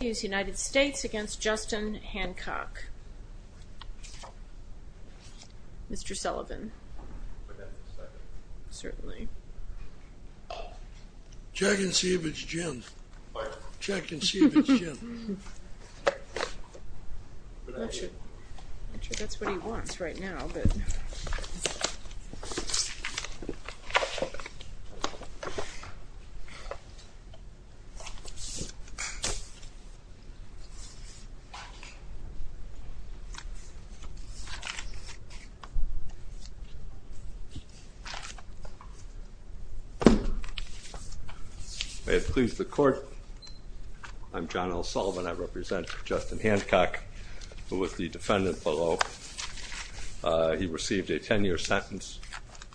United States against Justin Hancock. Mr. Sullivan. Certainly. Check and see if it's gin. Check and see if it's gin. May it please the court. I'm John L. Sullivan. I represent Justin Hancock, who was the defendant below. He received a 10 year sentence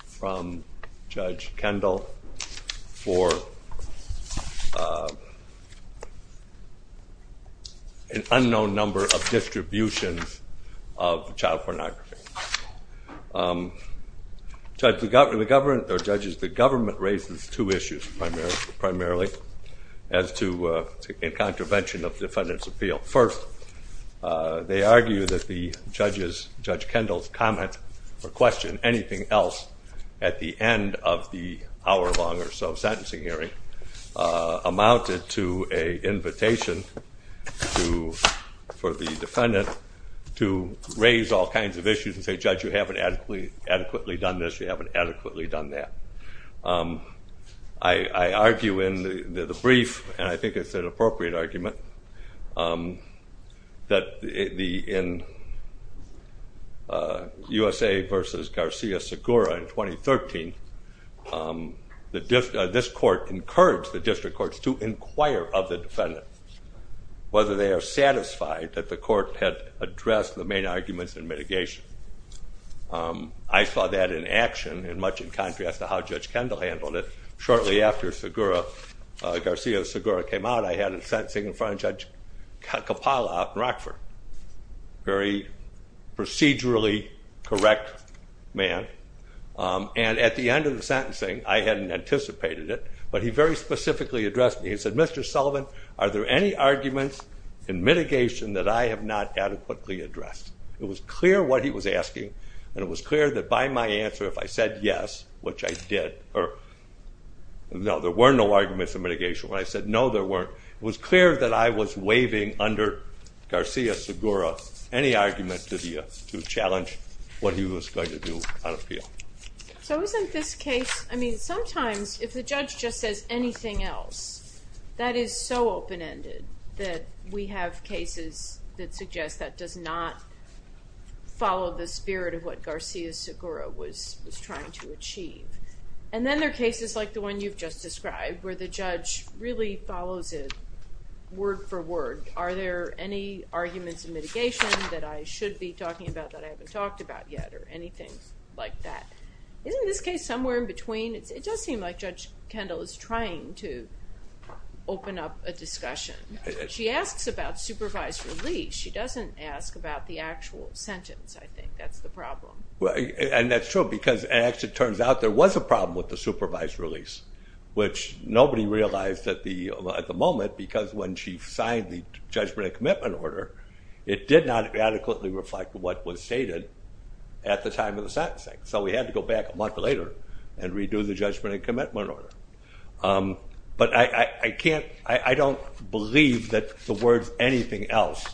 from Judge Kendall for an unknown number of distributions of child pornography. Judges, the government raises two issues primarily as to a contravention of defendant's appeal. First, they argue that Judge Kendall's comment or question, anything else, at the end of the hour long or so sentencing hearing amounted to an invitation for the defendant to raise all kinds of issues and say, Judge, you haven't adequately done this, you haven't adequately done that. I argue in the brief, and I think it's an appropriate argument, that in USA v. Garcia-Segura in 2013, this court encouraged the district courts to inquire of the defendants, whether they are satisfied that the court had addressed the main arguments in mitigation. I saw that in action, and much in contrast to how Judge Kendall handled it. Shortly after Garcia-Segura came out, I had him sentencing in front of Judge Coppola out in Rockford. Very procedurally correct man. And at the end of the sentencing, I hadn't anticipated it, but he very specifically addressed me. He said, Mr. Sullivan, are there any arguments in mitigation that I have not adequately addressed? It was clear what he was asking, and it was clear that by my answer, if I said yes, which I did, it was clear that I was waving under Garcia-Segura any argument to challenge what he was going to do on appeal. So isn't this case, I mean, sometimes if the judge just says anything else, that is so open-ended that we have cases that suggest that does not follow the spirit of what Garcia-Segura was trying to achieve. And then there are cases like the one you've just described where the judge really follows it word for word. Are there any arguments in mitigation that I should be talking about that I haven't talked about yet or anything like that? Isn't this case somewhere in between? It does seem like Judge Kendall is trying to open up a discussion. She asks about supervised release. She doesn't ask about the actual sentence, I think. That's the problem. And that's true because it actually turns out there was a problem with the supervised release, which nobody realized at the moment because when she signed the judgment and commitment order, it did not adequately reflect what was stated at the time of the sentencing. So we had to go back a month later and redo the judgment and commitment order. But I don't believe that the words anything else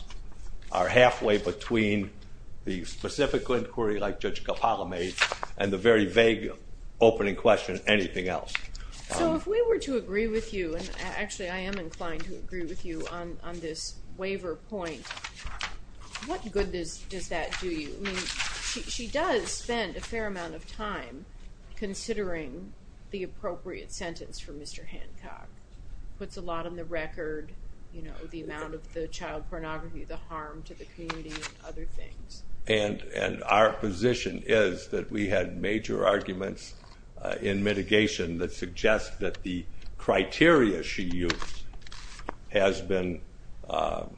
are halfway between the specific inquiry like Judge Capalame and the very vague opening question anything else. So if we were to agree with you, and actually I am inclined to agree with you on this waiver point, what good does that do you? She does spend a fair amount of time considering the appropriate sentence for Mr. Hancock. Puts a lot on the record, you know, the amount of the child pornography, the harm to the community and other things. And our position is that we had major arguments in mitigation that suggest that the criteria she used has been, I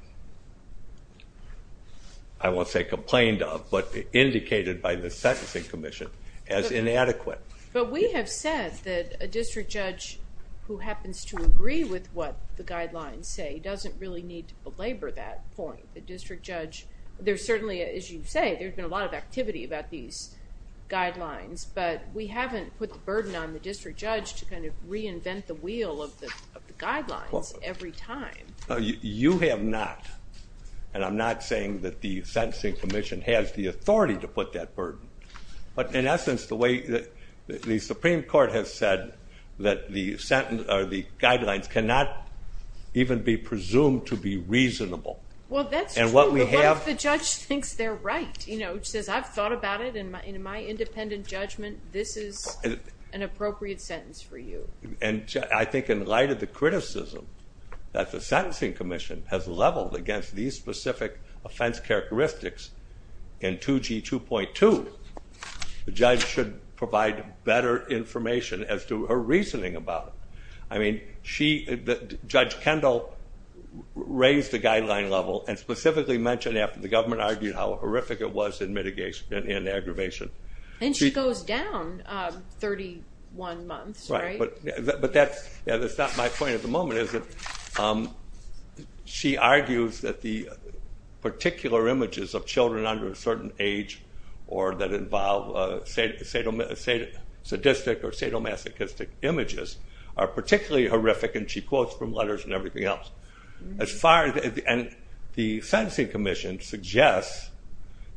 won't say complained of, but indicated by the sentencing commission as inadequate. But we have said that a district judge who happens to agree with what the guidelines say doesn't really need to belabor that point. The district judge, there's certainly, as you say, there's been a lot of activity about these guidelines, but we haven't put the burden on the district judge to kind of reinvent the wheel of the guidelines every time. You have not. And I'm not saying that the sentencing commission has the authority to put that burden. But in essence, the way that the Supreme Court has said that the guidelines cannot even be presumed to be reasonable. Well, that's true, but what if the judge thinks they're right? You know, which says I've thought about it and in my independent judgment, this is an appropriate sentence for you. And I think in light of the criticism that the sentencing commission has leveled against these specific offense characteristics in 2G2.2, the judge should provide better information as to her reasoning about it. I mean, Judge Kendall raised the guideline level and specifically mentioned after the government argued how horrific it was in mitigation and in aggravation. And she goes down 31 months, right? But that's not my point at the moment. She argues that the particular images of children under a certain age or that involve sadistic or sadomasochistic images are particularly horrific, and she quotes from letters and everything else. And the sentencing commission suggests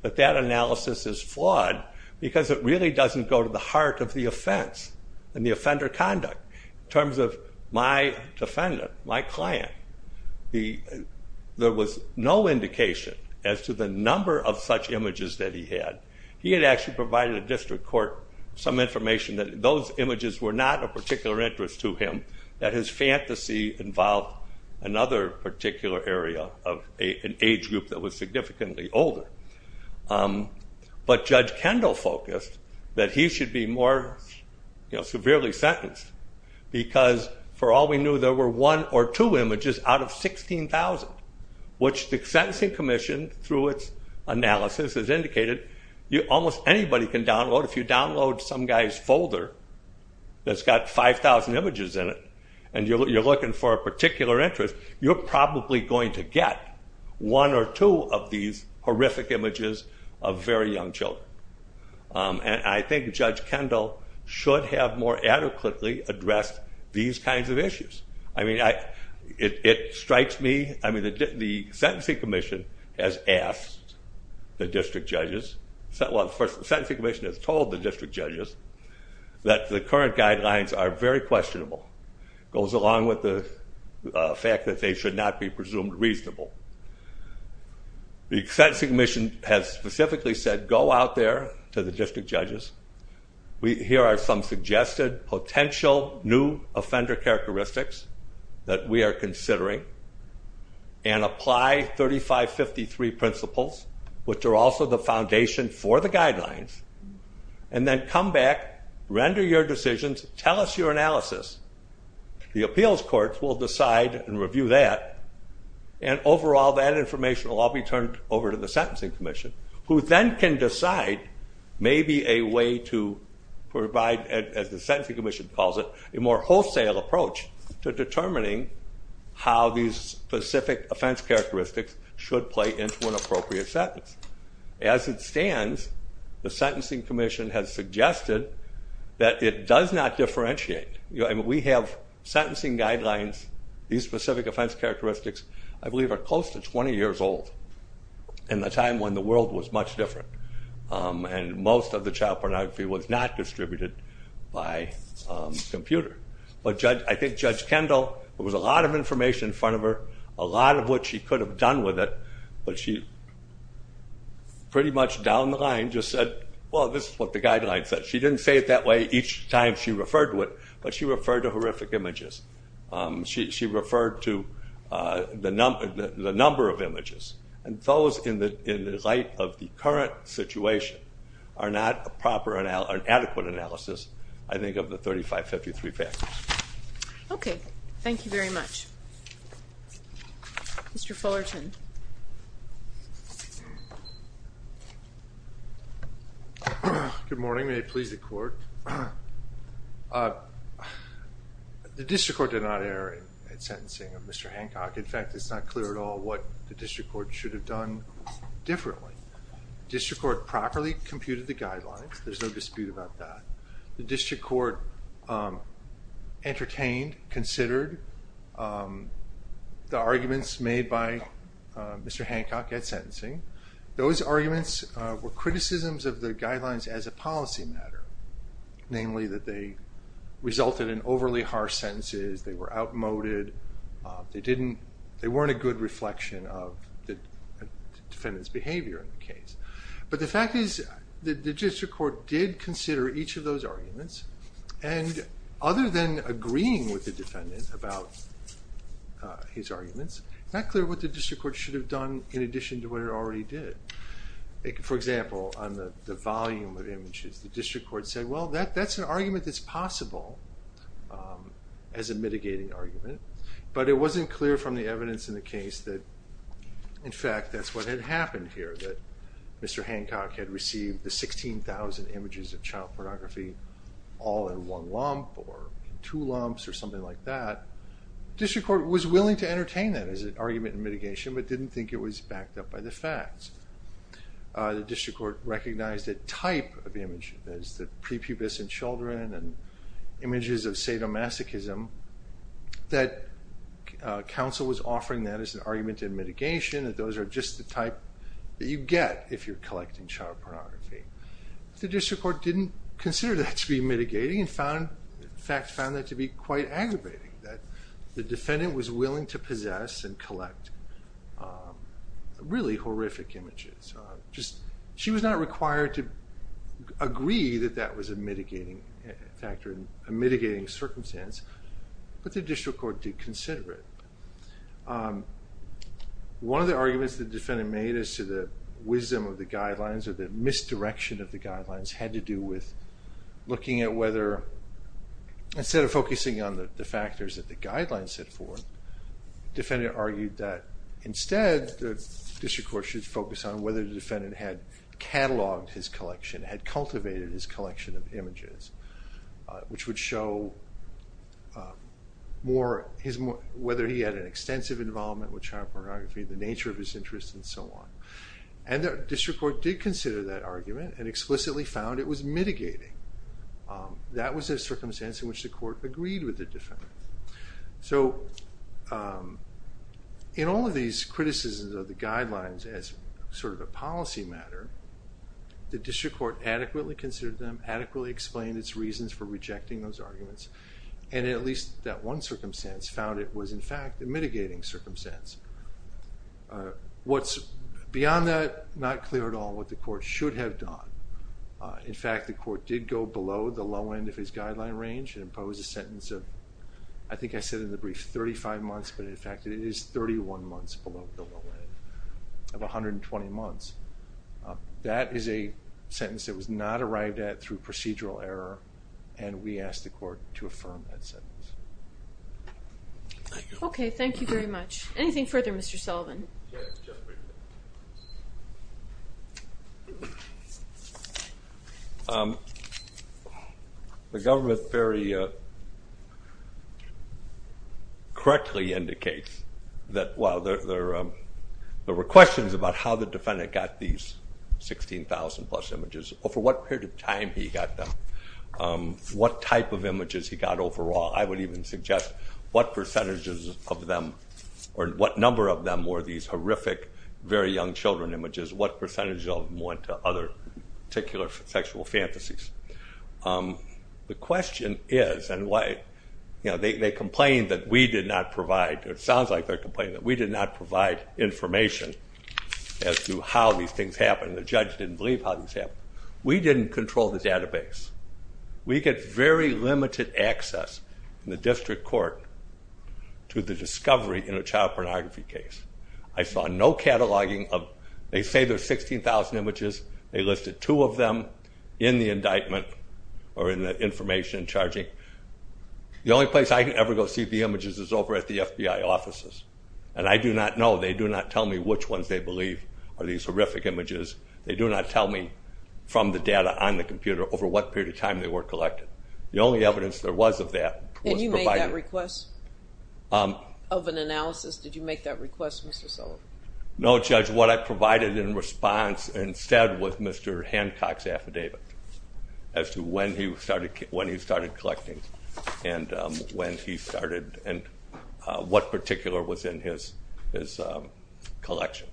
that that analysis is flawed because it really doesn't go to the heart of the offense and the offender conduct. In terms of my defendant, my client, there was no indication as to the number of such images that he had. He had actually provided the district court some information that those images were not of particular interest to him, and that his fantasy involved another particular area of an age group that was significantly older. But Judge Kendall focused that he should be more severely sentenced because, for all we knew, there were one or two images out of 16,000, which the sentencing commission, through its analysis, has indicated almost anybody can download. If you download some guy's folder that's got 5,000 images in it and you're looking for a particular interest, you're probably going to get one or two of these horrific images of very young children. And I think Judge Kendall should have more adequately addressed these kinds of issues. I mean, it strikes me, I mean, the sentencing commission has asked the district judges, well, the sentencing commission has told the district judges that the current guidelines are very questionable. It goes along with the fact that they should not be presumed reasonable. The sentencing commission has specifically said go out there to the district judges. Here are some suggested potential new offender characteristics that we are considering, and apply 3553 principles, which are also the foundation for the guidelines, and then come back, render your decisions, tell us your analysis. The appeals courts will decide and review that, and overall that information will all be turned over to the sentencing commission, who then can decide maybe a way to provide, as the sentencing commission calls it, a more wholesale approach to determining how these specific offense characteristics should play into an appropriate sentence. As it stands, the sentencing commission has suggested that it does not differentiate. I mean, we have sentencing guidelines, these specific offense characteristics, I believe are close to 20 years old, in a time when the world was much different, and most of the child pornography was not distributed by computer. But I think Judge Kendall, there was a lot of information in front of her, a lot of which she could have done with it, but she pretty much down the line just said, well, this is what the guidelines said. She didn't say it that way each time she referred to it, but she referred to horrific images. She referred to the number of images. And those, in the light of the current situation, are not an adequate analysis, I think, of the 3553 factors. Okay. Thank you very much. Mr. Fullerton. Good morning. May it please the Court. The district court did not err in sentencing of Mr. Hancock. In fact, it's not clear at all what the district court should have done differently. The district court properly computed the guidelines. There's no dispute about that. The district court entertained, considered the arguments made by Mr. Hancock at sentencing. Those arguments were criticisms of the guidelines as a policy matter, namely that they resulted in overly harsh sentences, they were outmoded, they weren't a good reflection of the defendant's behavior in the case. But the fact is that the district court did consider each of those arguments, and other than agreeing with the defendant about his arguments, it's not clear what the district court should have done in addition to what it already did. For example, on the volume of images, the district court said, well, that's an argument that's possible as a mitigating argument, but it wasn't clear from the evidence in the case that, in fact, that's what had happened here, that Mr. Hancock had received the 16,000 images of child pornography, all in one lump, or two lumps, or something like that. The district court was willing to entertain that as an argument in mitigation, but didn't think it was backed up by the facts. The district court recognized a type of image as the prepubescent children, and images of sadomasochism, that counsel was offering that as an argument in mitigation, that those are just the type that you get if you're collecting child pornography. The district court didn't consider that to be mitigating, and in fact found that to be quite aggravating, that the defendant was willing to possess and collect really horrific images. She was not required to agree that that was a mitigating factor, a mitigating circumstance, but the district court did consider it. One of the arguments the defendant made as to the wisdom of the guidelines, or the misdirection of the guidelines, had to do with looking at whether, instead of focusing on the factors that the guidelines set forth, the defendant argued that instead the district court should focus on whether the defendant had cataloged his collection, had cultivated his collection of images, which would show whether he had an extensive involvement with child pornography, the nature of his interest, and so on. And the district court did consider that argument, and explicitly found it was mitigating. That was a circumstance in which the court agreed with the defendant. So, in all of these criticisms of the guidelines as sort of a policy matter, the district court adequately considered them, adequately explained its reasons for rejecting those arguments, and in at least that one circumstance, found it was in fact a mitigating circumstance. What's beyond that, not clear at all what the court should have done. In fact, the court did go below the low end of his guideline range, and impose a sentence of, I think I said in the brief, 35 months, but in fact it is 31 months below the low end of 120 months. That is a sentence that was not arrived at through procedural error, and we ask the court to affirm that sentence. Okay, thank you very much. Anything further, Mr. Sullivan? Yes, just briefly. The government very correctly indicates that, well, there were questions about how the defendant got these 16,000 plus images, over what period of time he got them, what type of images he got overall, I would even suggest what percentages of them, or what number of them were these horrific, very young children images, what percentage of them went to other particular sexual fantasies. The question is, and why, they complained that we did not provide, or it sounds like they're complaining that we did not provide information as to how these things happened, and the judge didn't believe how these happened. We didn't control the database. We get very limited access in the district court to the discovery in a child pornography case. I saw no cataloging of, they say there's 16,000 images, they listed two of them in the indictment, or in the information in charging. The only place I can ever go see the images is over at the FBI offices, and I do not know, they do not tell me which ones they believe are these horrific images. They do not tell me from the data on the computer over what period of time they were collected. The only evidence there was of that was provided. And you made that request of an analysis? Did you make that request, Mr. Sullivan? No, Judge, what I provided in response instead was Mr. Hancock's affidavit as to when he started collecting and when he started and what particular was in his collection.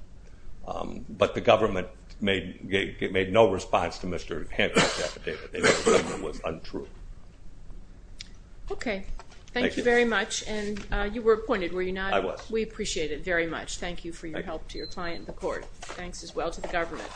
But the government made no response to Mr. Hancock's affidavit. It was untrue. Okay. Thank you very much. And you were appointed, were you not? I was. We appreciate it very much. Thank you for your help to your client, the court. Thanks as well to the government.